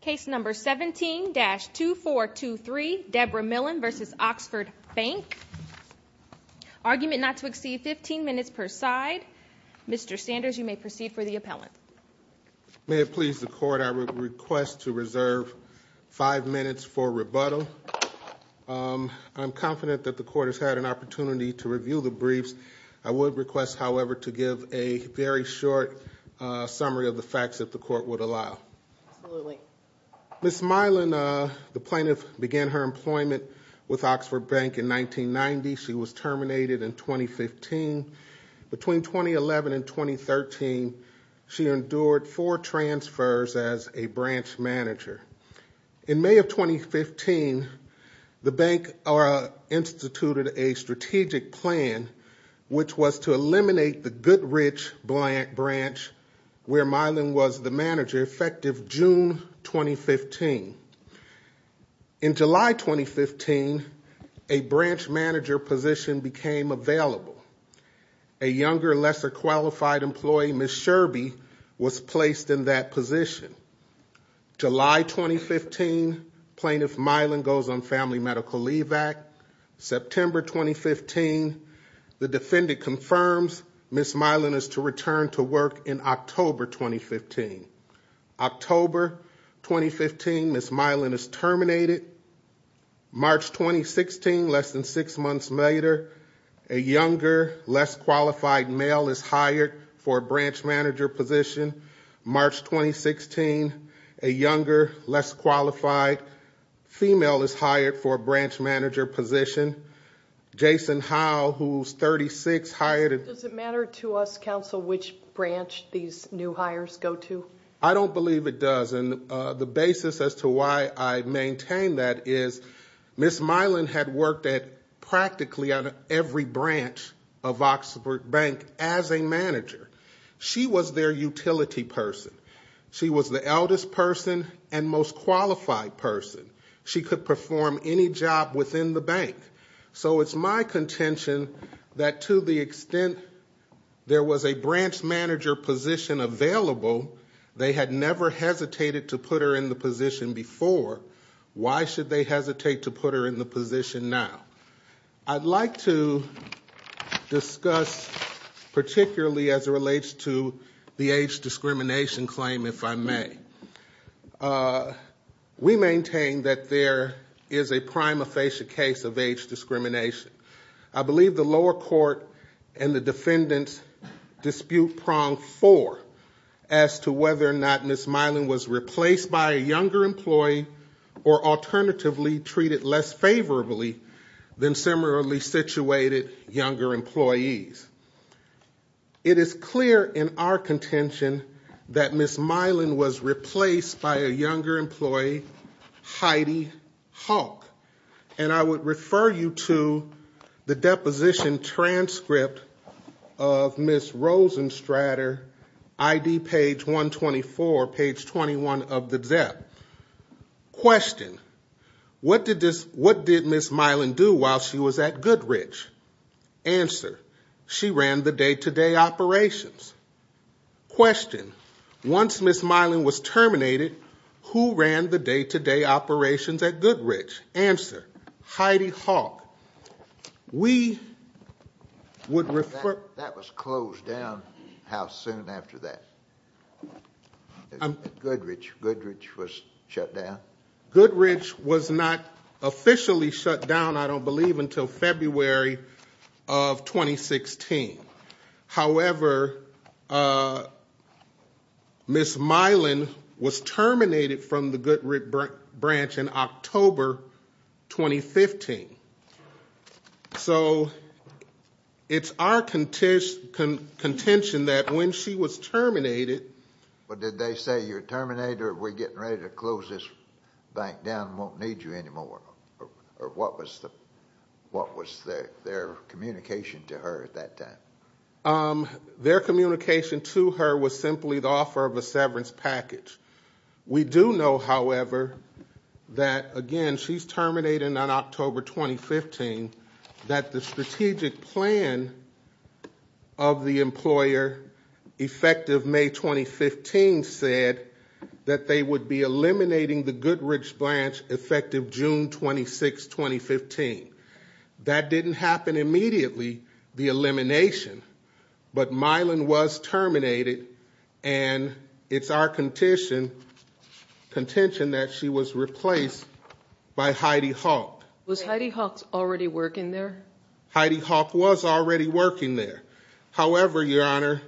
Case number 17-2423, Debra Millen v. Oxford Bank. Argument not to exceed 15 minutes per side. Mr. Sanders, you may proceed for the appellant. May it please the court, I request to reserve five minutes for rebuttal. I'm confident that the court has had an opportunity to review the briefs. I would request, however, to give a very short summary of the facts that the court would allow. Ms. Millen, the plaintiff, began her employment with Oxford Bank in 1990. She was terminated in 2015. Between 2011 and 2013, she endured four transfers as a branch manager. In May of 2015, the bank instituted a strategic plan which was to eliminate the Goodrich branch where Millen was the manager, effective June 2015. In July 2015, a branch manager position became available. A younger, lesser qualified employee, Ms. Sherby, was placed in that position. July 2015, plaintiff Millen goes on family medical leave back. September 2015, the defendant confirms Ms. Millen is to return to work in October 2015. October 2015, Ms. Millen is terminated. March 2016, less than six months later, a younger, less qualified male is hired for a branch manager position. March 2016, a younger, less qualified female is hired for a branch manager position. Jason Howell, who's 36, hired... Does it matter to us, counsel, which branch these new hires go to? I don't believe it does, and the basis as to why I maintain that is Ms. Millen had worked at practically every branch of Oxford Bank as a manager. She was their utility person. She was the eldest person and most qualified person. She could perform any job within the bank. So it's my contention that to the extent there was a branch manager position available, they had never hesitated to put her in the position before. Why should they hesitate to put her in the position now? I'd like to discuss, particularly as it relates to the age discrimination claim, if I may. We maintain that there is a prima facie case of age discrimination. I believe the lower court and the defendants dispute prong four as to whether or not Ms. Millen was replaced by a younger employee or alternatively treated less favorably than similarly situated younger employees. It is clear in our contention that Ms. Millen was And I would refer you to the deposition transcript of Ms. Rosenstrater, ID page 124, page 21 of the ZEP. Question, what did Ms. Millen do while she was at Goodrich? Answer, she ran the day-to-day operations. Question, once Ms. Millen was Heidi Hawk, we would refer... That was closed down. How soon after that? Goodrich. Goodrich was shut down? Goodrich was not officially shut down, I don't believe, until February of 2016. However, Ms. Millen was terminated from the bank in 2015. So it's our contention that when she was terminated... But did they say you're terminated or we're getting ready to close this bank down, won't need you anymore? Or what was their communication to her at that time? Their communication to her was simply the offer of a severance package. We do know, however, that again she's terminated on October 2015, that the strategic plan of the employer effective May 2015 said that they would be eliminating the Goodrich branch effective June 26, 2015. That didn't happen immediately, the elimination, but Millen was terminated and it's our contention that she was replaced by Heidi Hawk. Was Heidi Hawk already working there? Heidi Hawk was already working there. However, Your Honor,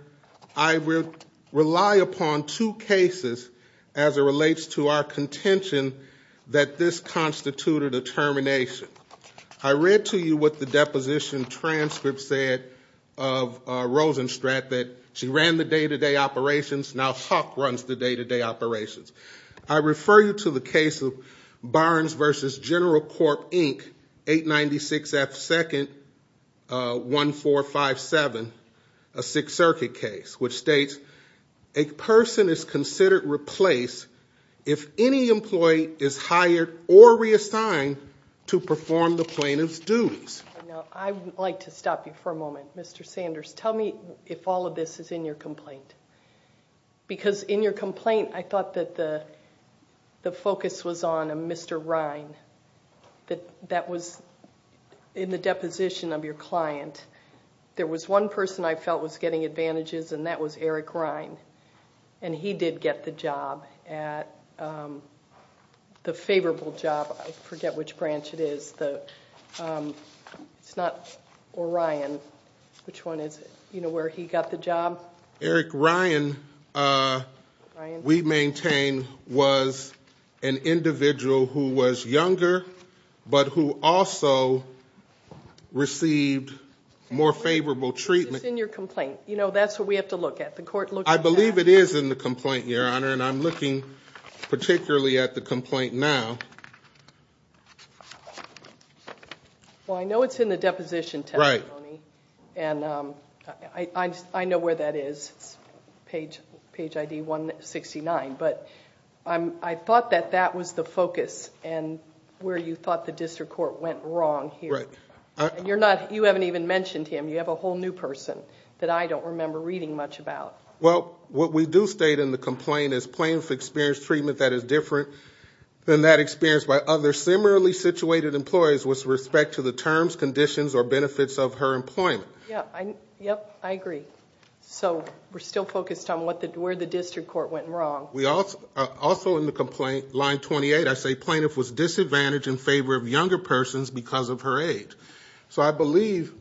I will rely upon two cases as it relates to our contention that this constituted a termination. I read to you what the deposition transcript said of Rosenstrat that she ran the day-to-day operations, now Hawk runs the day-to-day operations. I refer you to the case of Barnes v. General Corp Inc. 896 F. 2nd 1457, a Sixth Circuit case, which states a person is considered replaced if any employee is hired or reassigned to perform the plaintiff's duties. I would like to stop you for a moment. All of this is in your complaint. Because in your complaint, I thought that the focus was on a Mr. Rine that was in the deposition of your client. There was one person I felt was getting advantages and that was Eric Rine and he did get the job at, the favorable job, I forget which branch it is, it's not Orion, which one is it, you know, where he got the job. Eric Rine, we maintain, was an individual who was younger but who also received more favorable treatment. It's in your complaint, you know, that's what we have to look at. I believe it is in the complaint, Your Honor, and I'm looking particularly at the complaint now. Well, I know it's in the deposition testimony and I know where that is, it's page ID 169, but I thought that that was the focus and where you thought the district court went wrong here. You haven't even mentioned him, you have a whole new person that I don't remember reading much about. Well, what we do state in the complaint is plaintiff experienced treatment that is different than that experienced by other similarly situated employees with respect to the terms, conditions, or benefits of her employment. Yeah, yep, I agree. So we're still focused on where the district court went wrong. We also, also in the complaint, line 28, I say plaintiff was disadvantaged in favor of younger persons because of her age. So I believe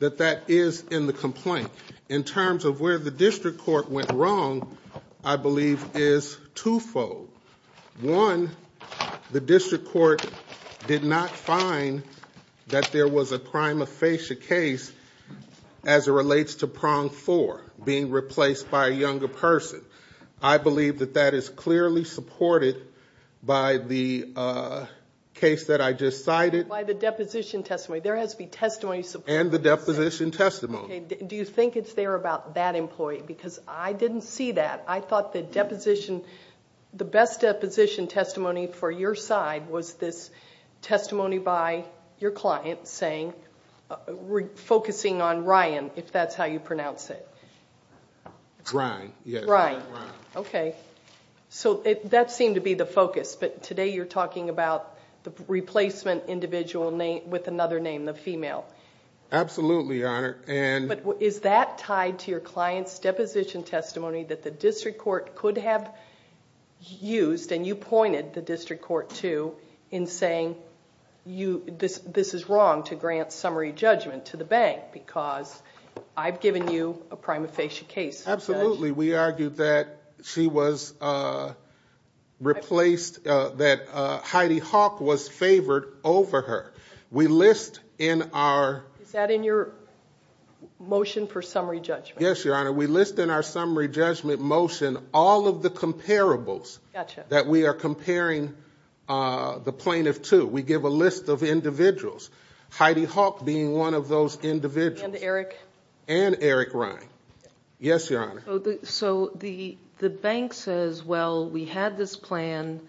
that that is in the complaint. In terms of where the district court went wrong, I have two things to note. One, the district court did not find that there was a prima facie case as it relates to prong four being replaced by a younger person. I believe that that is clearly supported by the case that I just cited. By the deposition testimony. There has to be testimony... And the deposition testimony. Do you think it's there about that employee? Because I didn't see that. I mean, the best deposition testimony for your side was this testimony by your client saying, focusing on Ryan, if that's how you pronounce it. Ryan, yes. Ryan. Okay. So that seemed to be the focus, but today you're talking about the replacement individual with another name, the female. Absolutely, Your Honor. Is that tied to your client's deposition testimony that the district court could have used, and you pointed the district court to, in saying this is wrong to grant summary judgment to the bank because I've given you a prima facie case. Absolutely. We argued that she was replaced, that Heidi Hawk was favored over her. We list in our... Is that in your motion for summary judgment? Yes, Your Honor. We list in our summary judgment motion all of the comparables that we are comparing the plaintiff to. We give a list of individuals. Heidi Hawk being one of those individuals. And Eric. And Eric Ryan. Yes, Your Honor. So the bank says, well, we had this plan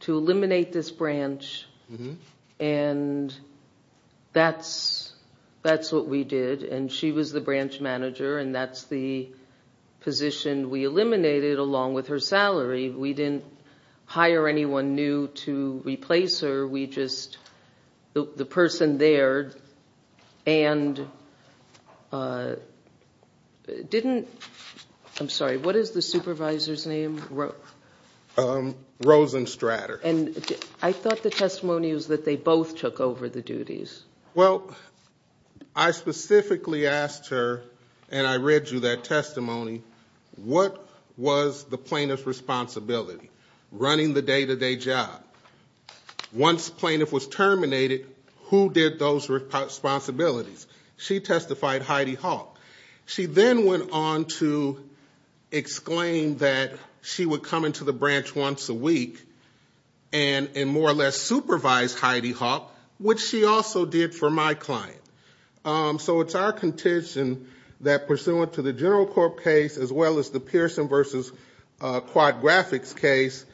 to eliminate this branch, and that's what we did, and she was the branch manager, and that's the position we eliminated along with her salary. We didn't hire anyone new to replace her. We just... the person there and didn't... I'm sorry, what is the supervisor's name? Rosen Stratter. And I thought the testimony was that they both took over the duties. Well, I specifically asked her, and I read you that testimony, what was the plaintiff's responsibility? Running the day-to-day job. Once plaintiff was terminated, who did those responsibilities? She testified, Heidi Hawk. She then went on to exclaim that she would come into the branch once a week and more or less supervise Heidi Hawk, which she also did for my client. So it's our contention that pursuant to the General Court case as well as the Pearson v. Quad Graphics case,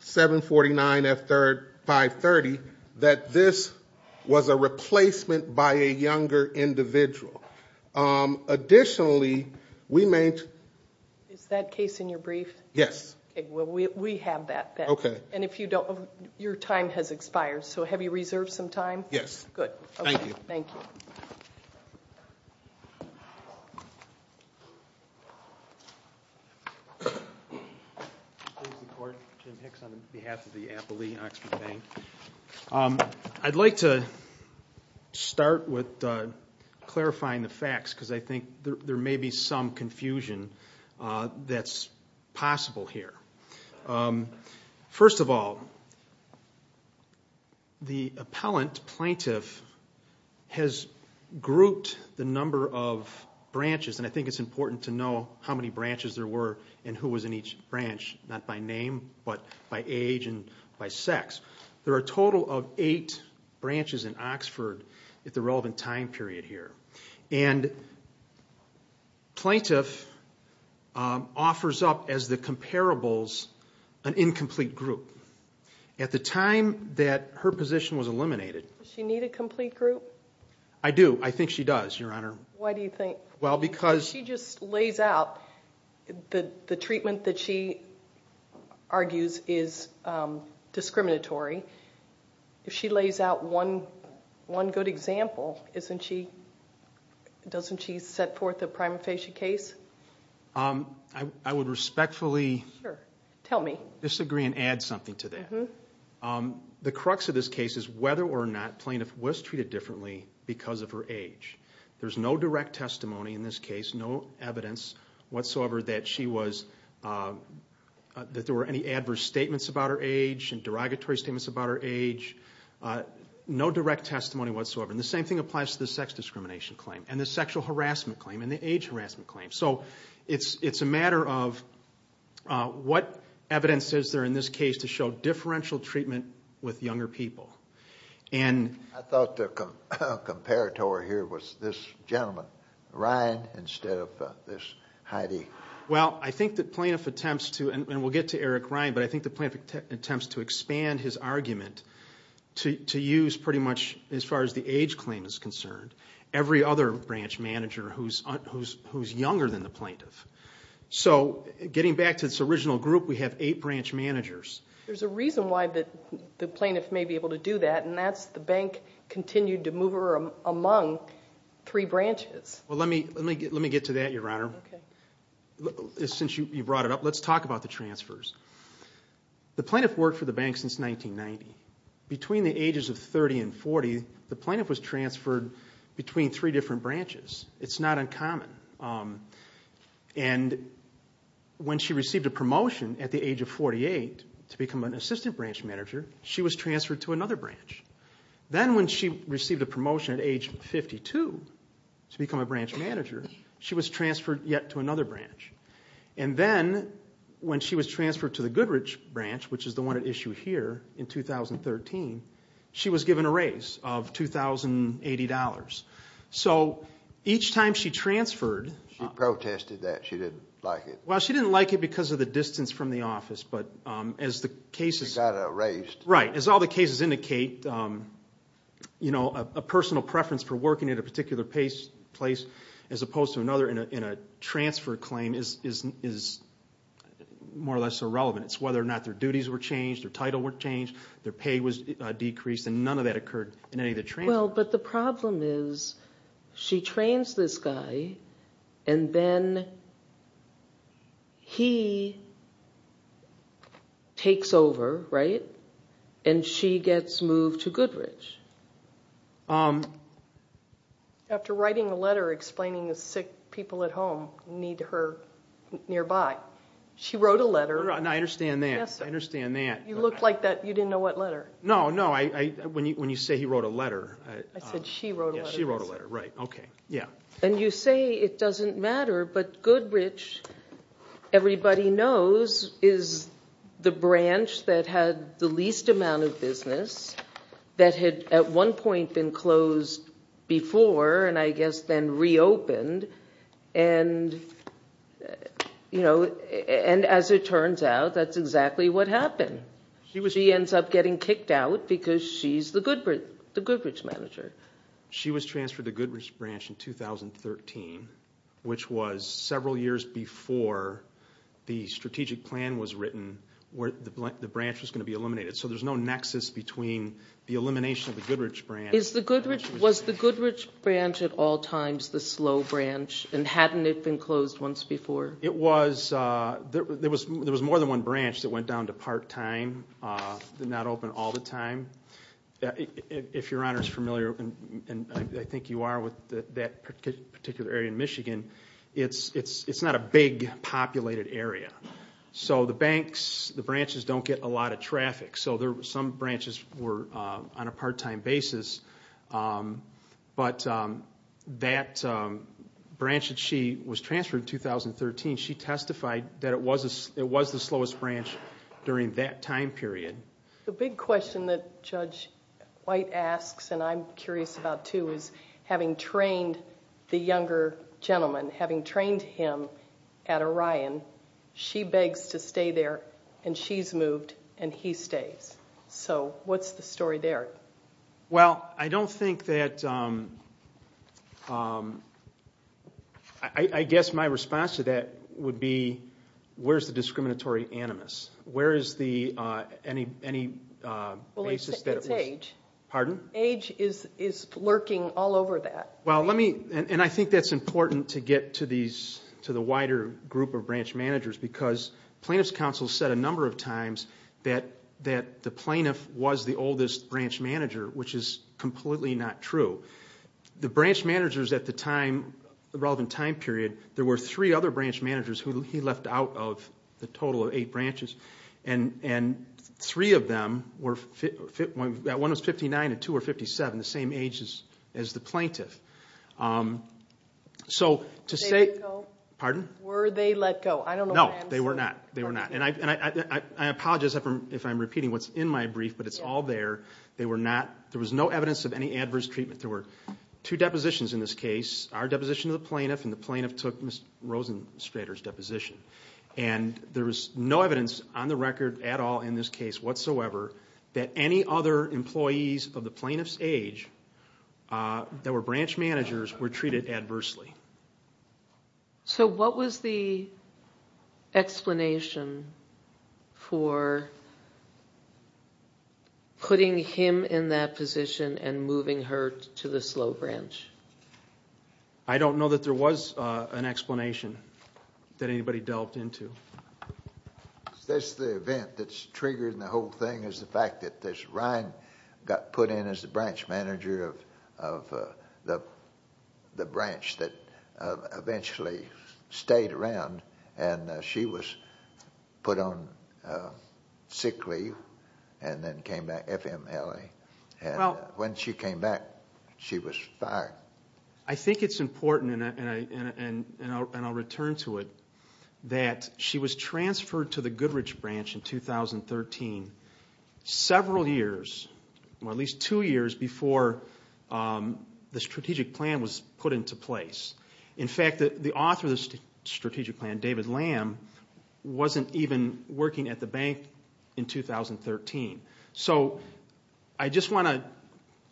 749 F. 530, that this was a replacement by a younger individual. Additionally, we may... Is that case in your brief? Yes. Okay. Well, we have that. Okay. And if you don't... your time has expired, so have you reserved some time? Yes. Good. Thank you. Thank you. I'd like to start with clarifying the facts because I think there may be some confusion that's possible here. First of all, the appellant, plaintiff, has grouped the number of branches, and I think it's important to know how many branches there were and who was in each branch, not by name but by age and by sex. There are a total of eight branches in Oxford at the relevant time period here. And plaintiff offers up as the comparables an incomplete group. At the time that her position was eliminated... Does she need a complete group? I do. I think she does, Your Honor. Why do you think? Well, because... If she just lays out the treatment that she argues is discriminatory, if she lays out one good example, doesn't she set forth a prima facie case? I would respectfully disagree and add something to that. The crux of this case is whether or not plaintiff was treated differently because of her age. There's no direct testimony in this case, no evidence whatsoever that there were any adverse statements about her age and derogatory statements about her age, no direct testimony whatsoever. And the same thing applies to the sex discrimination claim and the sexual harassment claim and the age harassment claim. So it's a matter of what evidence is there in this case to show differential treatment with younger people. I thought the comparator here was this gentleman, Ryan, instead of this Heidi. Well, I think the plaintiff attempts to... and we'll get to Eric Ryan, but I think the plaintiff attempts to expand his argument to use pretty much as far as the age claim is concerned, every other branch manager who's younger than the plaintiff. So getting back to this original group, we have eight branch managers. There's a reason why the plaintiff may be able to do that and that's the bank continued to move her among three branches. Well, let me get to that, Your Honor. Since you brought it up, let's talk about the transfers. The plaintiff worked for the bank since 1990. Between the ages of 30 and 40, the plaintiff was transferred between three different branches. It's not uncommon. And when she received a promotion at the age of 48 to become an assistant branch manager, she was transferred to another branch. Then when she received a promotion at age 52 to become a branch manager, she was transferred yet to another branch. And then when she was transferred to the other branch, she was given a raise of $2,080. So each time she transferred... She protested that. She didn't like it. Well, she didn't like it because of the distance from the office, but as the cases... She got a raise. Right. As all the cases indicate, a personal preference for working at a particular place as opposed to another in a transfer claim is more or less irrelevant. It's whether or not their duties were changed, their title were changed. None of that occurred in any of the transfers. Well, but the problem is she trains this guy and then he takes over, right? And she gets moved to Goodrich. After writing a letter explaining the sick people at home need her nearby, she wrote a letter... I understand that. I understand that. You looked like you didn't know what letter. No, no. When you say he wrote a letter... I said she wrote a letter. She wrote a letter. Right. Okay. Yeah. And you say it doesn't matter, but Goodrich, everybody knows, is the branch that had the least amount of business, that had at one point been closed before, and I guess then reopened. And as it turns out, that's exactly what happened. She ends up getting kicked out because she's the Goodrich manager. She was transferred to Goodrich branch in 2013, which was several years before the strategic plan was written where the branch was going to be eliminated. So there's no nexus between the elimination of the Goodrich branch... Was the Goodrich branch at all times the slow branch and hadn't it been closed once before? It was... There was more than one branch that went down to part-time, did not open all the time. If Your Honor is familiar, and I think you are with that particular area in Michigan, it's not a big populated area. So the banks, the branches don't get a lot of traffic. So some branches were on a little bit of a slump. In 2013, she testified that it was the slowest branch during that time period. The big question that Judge White asks, and I'm curious about too, is having trained the younger gentleman, having trained him at Orion, she begs to stay there, and she's moved, and he stays. So what's the story there? Well, I don't think that... I guess my response to that would be, where's the discriminatory animus? Where is the... It's age. Pardon? Age is lurking all over that. Well, let me... And I think that's important to get to the wider group of branch managers, because plaintiff's counsel said a number of times that the plaintiff was the oldest branch manager, which is completely not true. The branch managers at the time, the relevant time period, there were three other branch managers who he left out of the total of eight branches, and three of them were... One was 59 and two were 57, the same age as the plaintiff. So to say... Were they let go? Pardon? Were they let go? I don't know the answer. They were not. And I apologize if I'm repeating what's in my brief, but it's all there. They were not... There was no evidence of any adverse treatment. There were two depositions in this case, our deposition of the plaintiff and the plaintiff took Ms. Rosenstrater's deposition. And there was no evidence on the record at all in this case whatsoever that any other employees of the plaintiff's age that were branch managers were treated adversely. So what was the explanation for putting him in that position and moving her to the slow branch? I don't know that there was an explanation that anybody delved into. That's the event that's triggered in the whole thing is the fact that this Ryan got put in as the branch manager of the branch that eventually stayed around and she was put on sick leave and then came back FMLA. And when she came back, she was fired. I think it's important, and I'll return to it, that she was transferred to the Goodrich branch in 2013, several years, or at least two years before the strategic plan was put into place. In fact, the author of this strategic plan, David Lamb, wasn't even working at the bank in 2013. So I just want to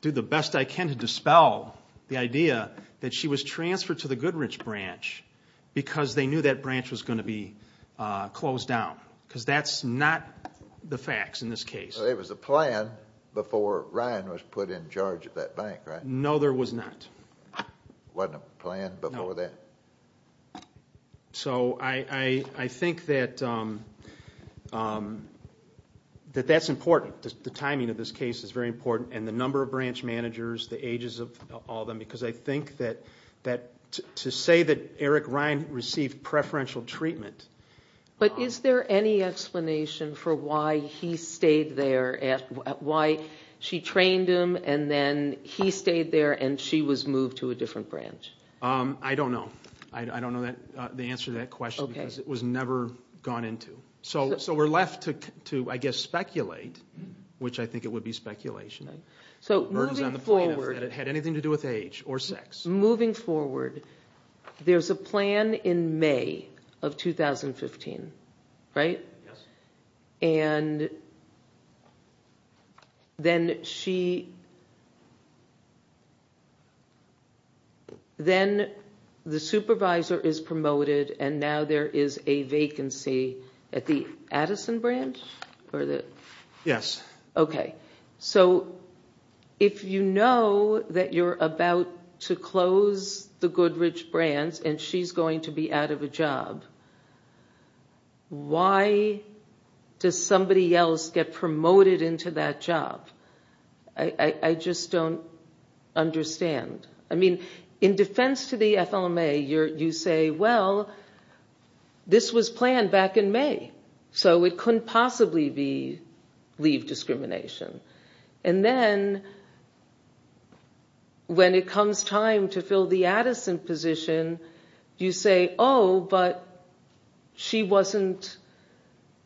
do the best I can to dispel the idea that she was transferred to the Goodrich branch because they knew that branch was going to be closed down, because that's not the facts in this case. So there was a plan before Ryan was put in charge of that bank, right? No, there was not. Wasn't a plan before that? So I think that that's important. The timing of this case is very important, and the number of branch managers, the ages of all of them, because I think that to say that Eric Ryan received preferential treatment... But is there any explanation for why he stayed there, at why she trained him, and then he stayed there, and she was moved to a different branch? I don't know. I don't know the answer to that question, because it was never gone into. So we're left to, I guess, speculate, which I think it would be speculation. So moving forward... It had anything to do with age or sex. Moving forward, there's a vacancy in May of 2015, right? Yes. And then she... Then the supervisor is promoted, and now there is a vacancy at the Addison branch? Yes. Okay. So if you know that you're about to close the Goodrich branch, and she's going to be out of a job, why does somebody else get promoted into that job? I just don't understand. In defense to the FLMA, you say, well, this was planned back in May, so it couldn't possibly be leave discrimination. And then when it comes time to fill the Addison position, you say, oh, but she wasn't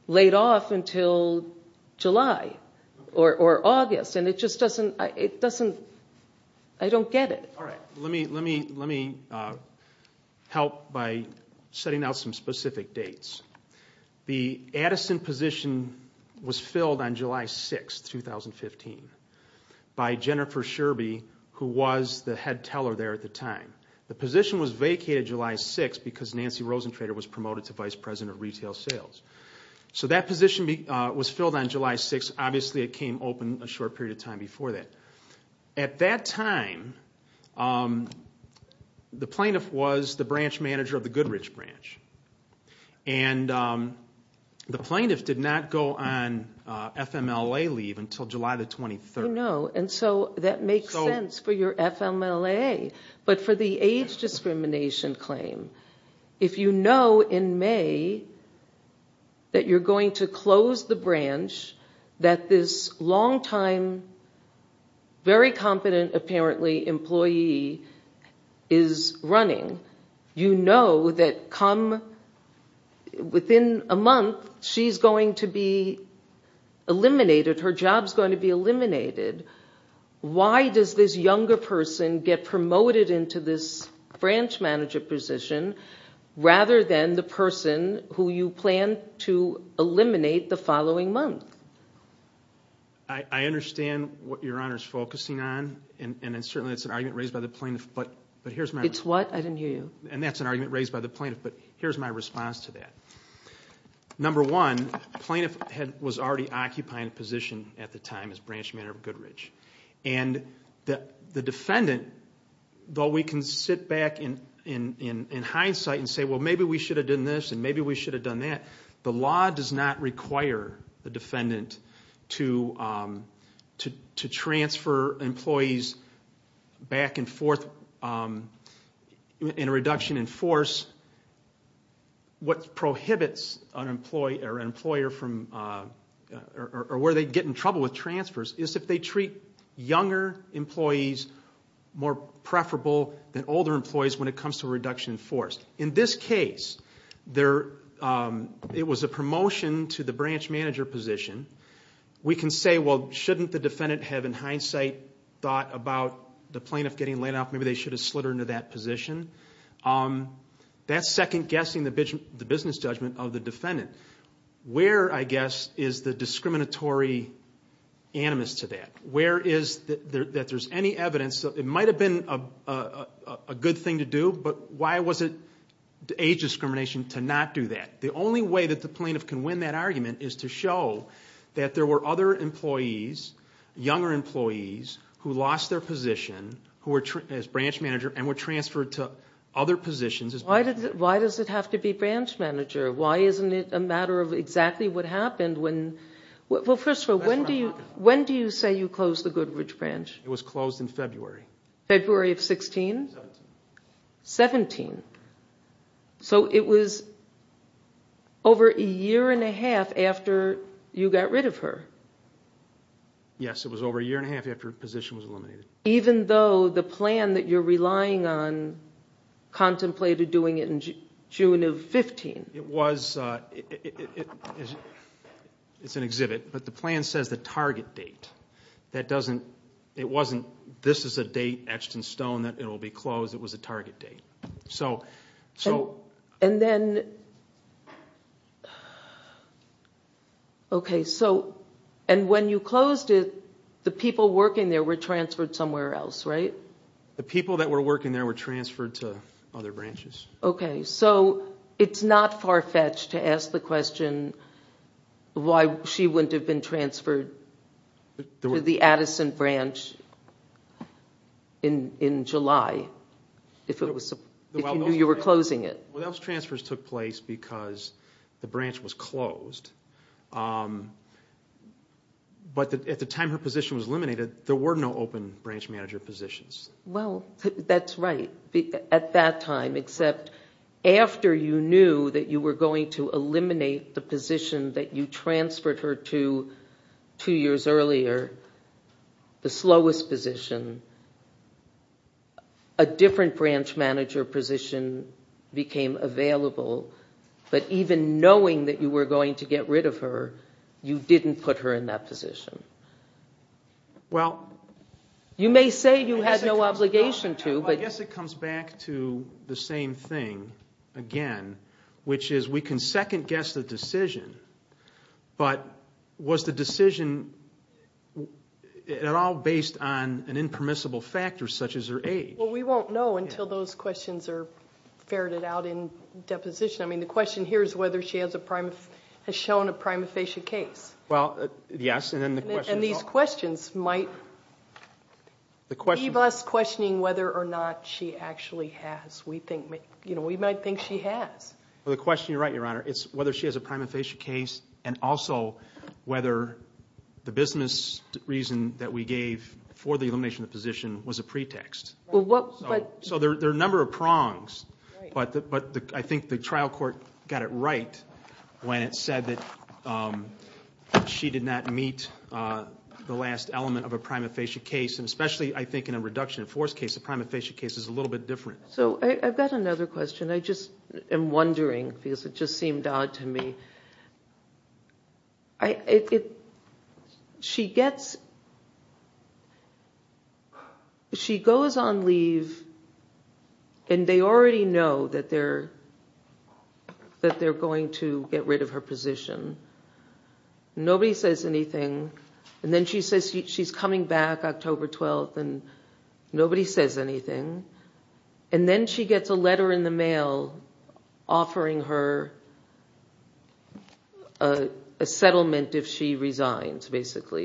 laid off until July or August. And it just doesn't... I don't get it. All right. Let me help by setting out some specific dates. The Addison position was filled on July 6th, 2015, by Jennifer Sherby, who was the head of the board at the time. The position was vacated July 6th because Nancy Rosentrader was promoted to Vice President of Retail Sales. So that position was filled on July 6th. Obviously, it came open a short period of time before that. At that time, the plaintiff was the branch manager of the Goodrich branch. And the plaintiff did not go on FMLA leave until July the 23rd. Oh, no. And so that makes sense for your FMLA. But for the age discrimination claim, if you know in May that you're going to close the branch, that this long time, very competent, apparently, employee is running, you know that come within a month, she's going to be eliminated, her job's going to be to help a younger person get promoted into this branch manager position, rather than the person who you plan to eliminate the following month. I understand what Your Honor's focusing on. And certainly, it's an argument raised by the plaintiff, but here's my... It's what? I didn't hear you. And that's an argument raised by the plaintiff, but here's my response to that. Number one, plaintiff was already occupying a position at the time as branch manager of Goodrich. And the defendant, though we can sit back in hindsight and say, well, maybe we should have done this and maybe we should have done that, the law does not require the defendant to transfer employees back and forth in a reduction in force. What prohibits an employee or an employer from... Or where they get in trouble with transfers is if they treat younger employees more preferable than older employees when it comes to a reduction in force. In this case, it was a promotion to the branch manager position. We can say, well, shouldn't the defendant have, in hindsight, thought about the plaintiff getting laid off? Maybe they should have slid her into that position. That's second guessing the business judgment of the defendant. Where, I guess, is the discriminatory animus to that? Where is... That there's any evidence... It might have been a good thing to do, but why was it age discrimination to not do that? The only way that the plaintiff can win that argument is to show that there were other employees, younger employees, who lost their position, who were... As branch manager and were transferred to other positions... Why does it have to be branch manager? Why isn't it a matter of exactly what happened when... Well, first of all, when do you say you closed the Goodrich branch? It was closed in February. February of 16? 17. 17. So it was over a year and a half after you got rid of her. Yes, it was over a year and a half after her position was eliminated. Even though the plan that you're relying on contemplated doing it in June of 15. It was... It's an exhibit, but the plan says the target date. That doesn't... It wasn't, this is a date etched in stone that it will be closed. It was a target date. So... And then... Okay, so... And when you closed it, the people working there were transferred somewhere else, right? The people that were working there were transferred to other branches. Okay, so it's not farfetched to ask the question why she wouldn't have been transferred to the Addison branch in July, if it was... If you knew you were closing it. Those transfers took place because the branch was closed. But at the time her position was eliminated, there were no open branch manager positions. Well, that's right. At that time, except after you knew that you were going to eliminate the position that you transferred her to two years earlier, the slowest position, a different branch manager position became available. But even knowing that you were going to get rid of her, you didn't put her in that position. Well... You may say you had no obligation to, but... I guess it comes back to the same thing again, which is we can second guess the such as her age. Well, we won't know until those questions are ferreted out in deposition. I mean, the question here is whether she has shown a prima facie case. Well, yes, and then the question is... And these questions might leave us questioning whether or not she actually has. We might think she has. Well, the question, you're right, Your Honor. It's whether she has a prima facie case and also whether the business reason that we gave for the elimination of the position was a pretext. So there are a number of prongs, but I think the trial court got it right when it said that she did not meet the last element of a prima facie case. And especially, I think, in a reduction in force case, a prima facie case is a little bit different. So I've got another question. I just am wondering because it just she gets... She goes on leave and they already know that they're going to get rid of her position. Nobody says anything. And then she says she's coming back October 12th and nobody says anything. And then she gets a basically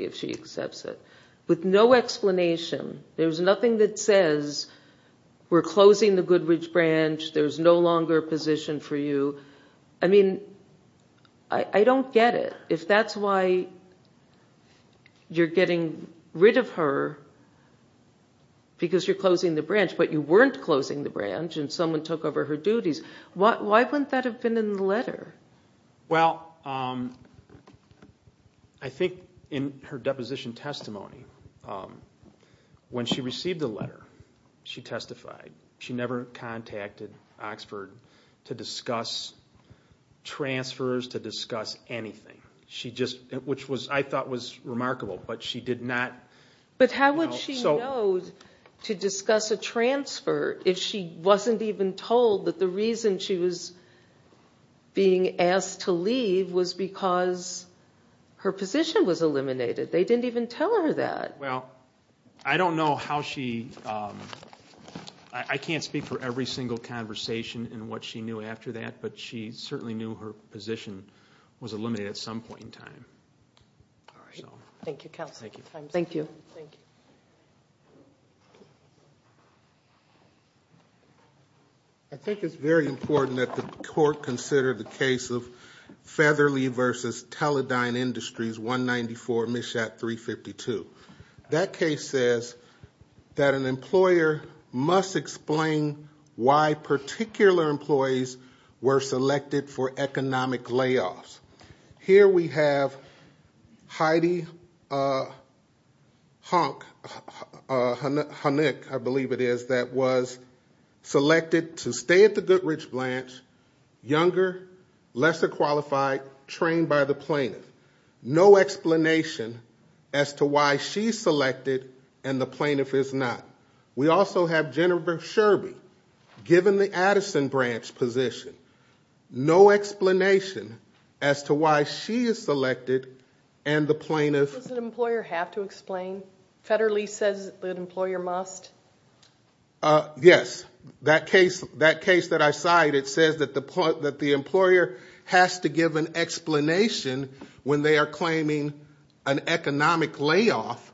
if she accepts it with no explanation. There's nothing that says we're closing the Goodrich branch. There's no longer position for you. I mean, I don't get it. If that's why you're getting rid of her because you're closing the branch, but you weren't closing the branch and someone took over her duties, why wouldn't that have been in the letter? Well, I think in her deposition testimony, when she received the letter, she testified. She never contacted Oxford to discuss transfers, to discuss anything. Which I thought was remarkable, but she did not. But how would she know to discuss a being asked to leave was because her position was eliminated. They didn't even tell her that. Well, I don't know how she... I can't speak for every single conversation and what she knew after that, but she certainly knew her position was eliminated at some point in time. Thank you, counsel. Thank you. Thank you. Thank you. I think it's very important that the court consider the case of Featherly v. Teledyne Industries 194, MSHAT 352. That case says that an employer must explain why particular employees were selected to stay at the Goodrich branch, younger, lesser qualified, trained by the plaintiff. No explanation as to why she's selected and the plaintiff is not. We also have Jennifer Sherby, given the Addison branch position. No explanation as to why she is selected and the plaintiff... Does an employer have to explain? Featherly says that an employer must? Yes. That case that I cite, it says that the employer has to give an explanation when they are claiming an economic layoff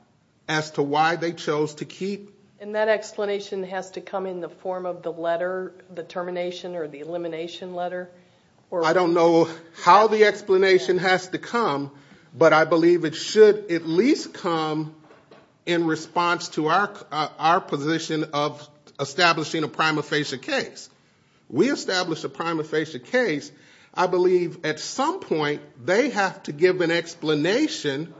as to why they chose to keep... And that explanation has to come in the form of the letter, the termination or the elimination letter? I don't know how the explanation has to come, but I believe it should at least come in response to our position of establishing a prima facie case. We established a prima facie case. I believe at some point they have to give an explanation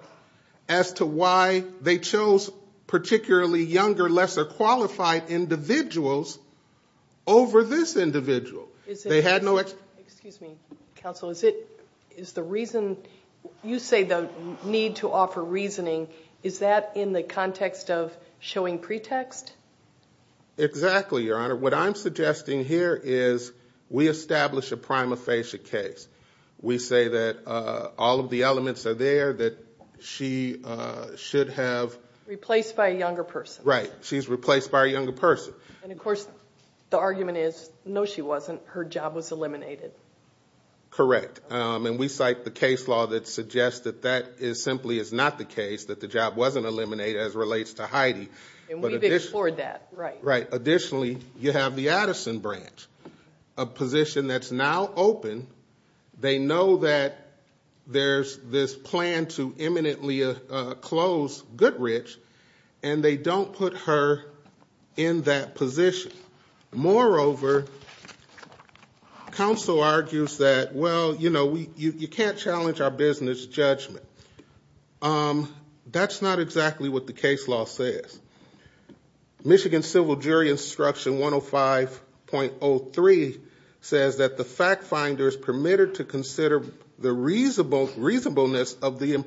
as to why they chose particularly younger, lesser qualified individuals over this individual. They had no... Excuse me, counsel. Is the reason... You say the need to offer reasoning. Is that in the context of showing pretext? Exactly, Your Honor. What I'm suggesting here is we establish a prima facie case. We say that all of the elements are there, that she should have... Replaced by a younger person. Right. She's replaced by a younger person. And of course, the argument is, no, she wasn't. Her job was eliminated. Correct. And we cite the case law that suggests that that simply is not the case, that the job wasn't eliminated as relates to Heidi. And we've explored that, right. Right. Additionally, you have the Addison branch, a position that's now open. They know that there's this plan to imminently close Goodrich, and they don't put her in that position. Moreover, counsel argues that, well, you can't challenge our business judgment. That's not exactly what the case law says. Michigan Civil Jury Instruction 105.03 says that the fact finder is permitted to consider the reasonableness of the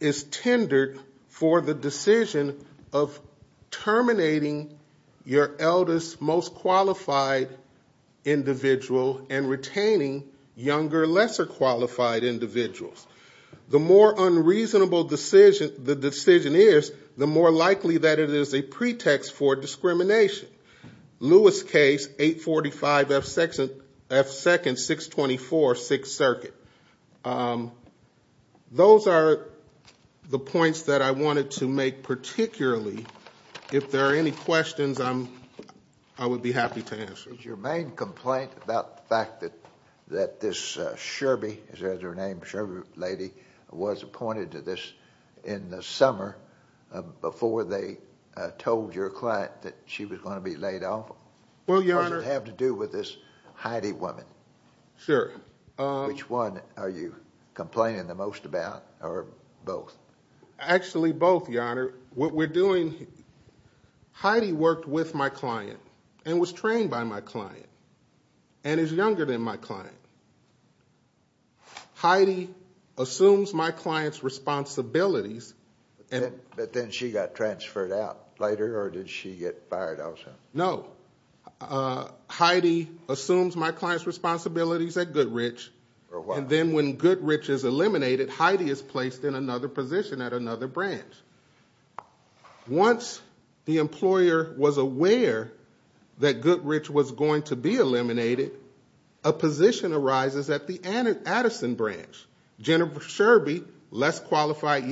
is tendered for the decision of terminating your eldest, most qualified individual and retaining younger, lesser qualified individuals. The more unreasonable the decision is, the more likely that it is a pretext for discrimination. Lewis case 845 F 2nd 624 6th Circuit. Those are the points that I wanted to make, particularly if there are any questions I'm, I would be happy to answer your main complaint about the fact that, that this Sherbie is her name, Sherb lady was appointed to this in the summer before they told your client that she was going to be laid off. Well, you sure. Which one are you complaining the most about or both? Actually both, your honor. What we're doing, Heidi worked with my client and was trained by my client and is younger than my client. Heidi assumes my client's responsibilities. But then she got transferred out later or did she get fired out? No. Heidi assumes my client's responsibilities at Goodrich and then when Goodrich is eliminated, Heidi is placed in another position at another branch. Once the employer was aware that Goodrich was going to be eliminated, a position arises at the Addison branch. Jennifer Sherbie, less qualified.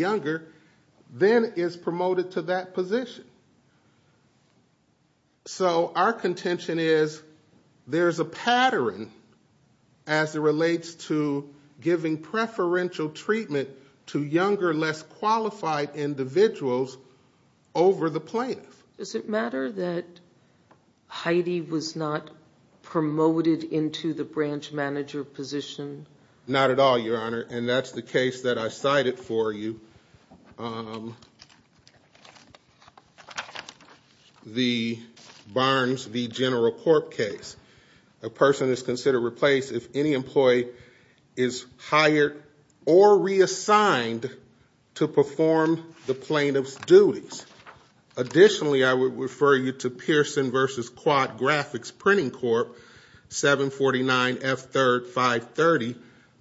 So our contention is there's a pattern as it relates to giving preferential treatment to younger, less qualified individuals over the plaintiff. Does it matter that Heidi was not promoted into the branch manager position? Not at all, your honor. And that's the the Barnes v. General Corp case. A person is considered replaced if any employee is hired or reassigned to perform the plaintiff's duties. Additionally, I would refer you to Pearson v. Quad Graphics Printing Corp, 749F3530,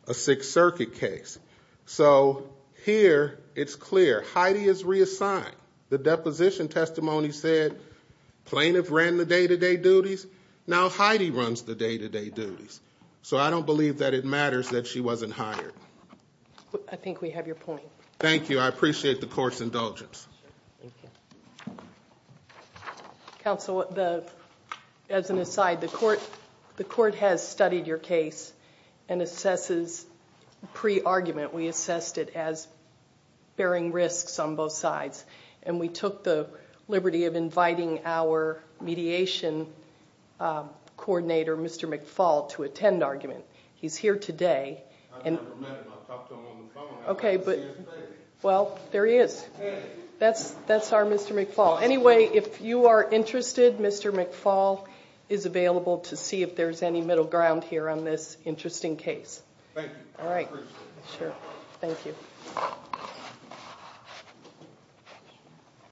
a Sixth Circuit case. So here it's clear. Heidi is reassigned. The deposition testimony said plaintiff ran the day-to-day duties. Now Heidi runs the day-to-day duties. So I don't believe that it matters that she wasn't hired. I think we have your point. Thank you. I appreciate the court's indulgence. Counsel, as an aside, the court has studied your case and pre-argument we assessed it as bearing risks on both sides. And we took the liberty of inviting our mediation coordinator, Mr. McFaul, to attend argument. He's here today. I never met him. I talked to him on the phone. Okay. Well, there he is. That's our Mr. McFaul. Anyway, if you are interested, Mr. McFaul is available to see if there's any middle ground on this interesting case. Thank you. I appreciate it.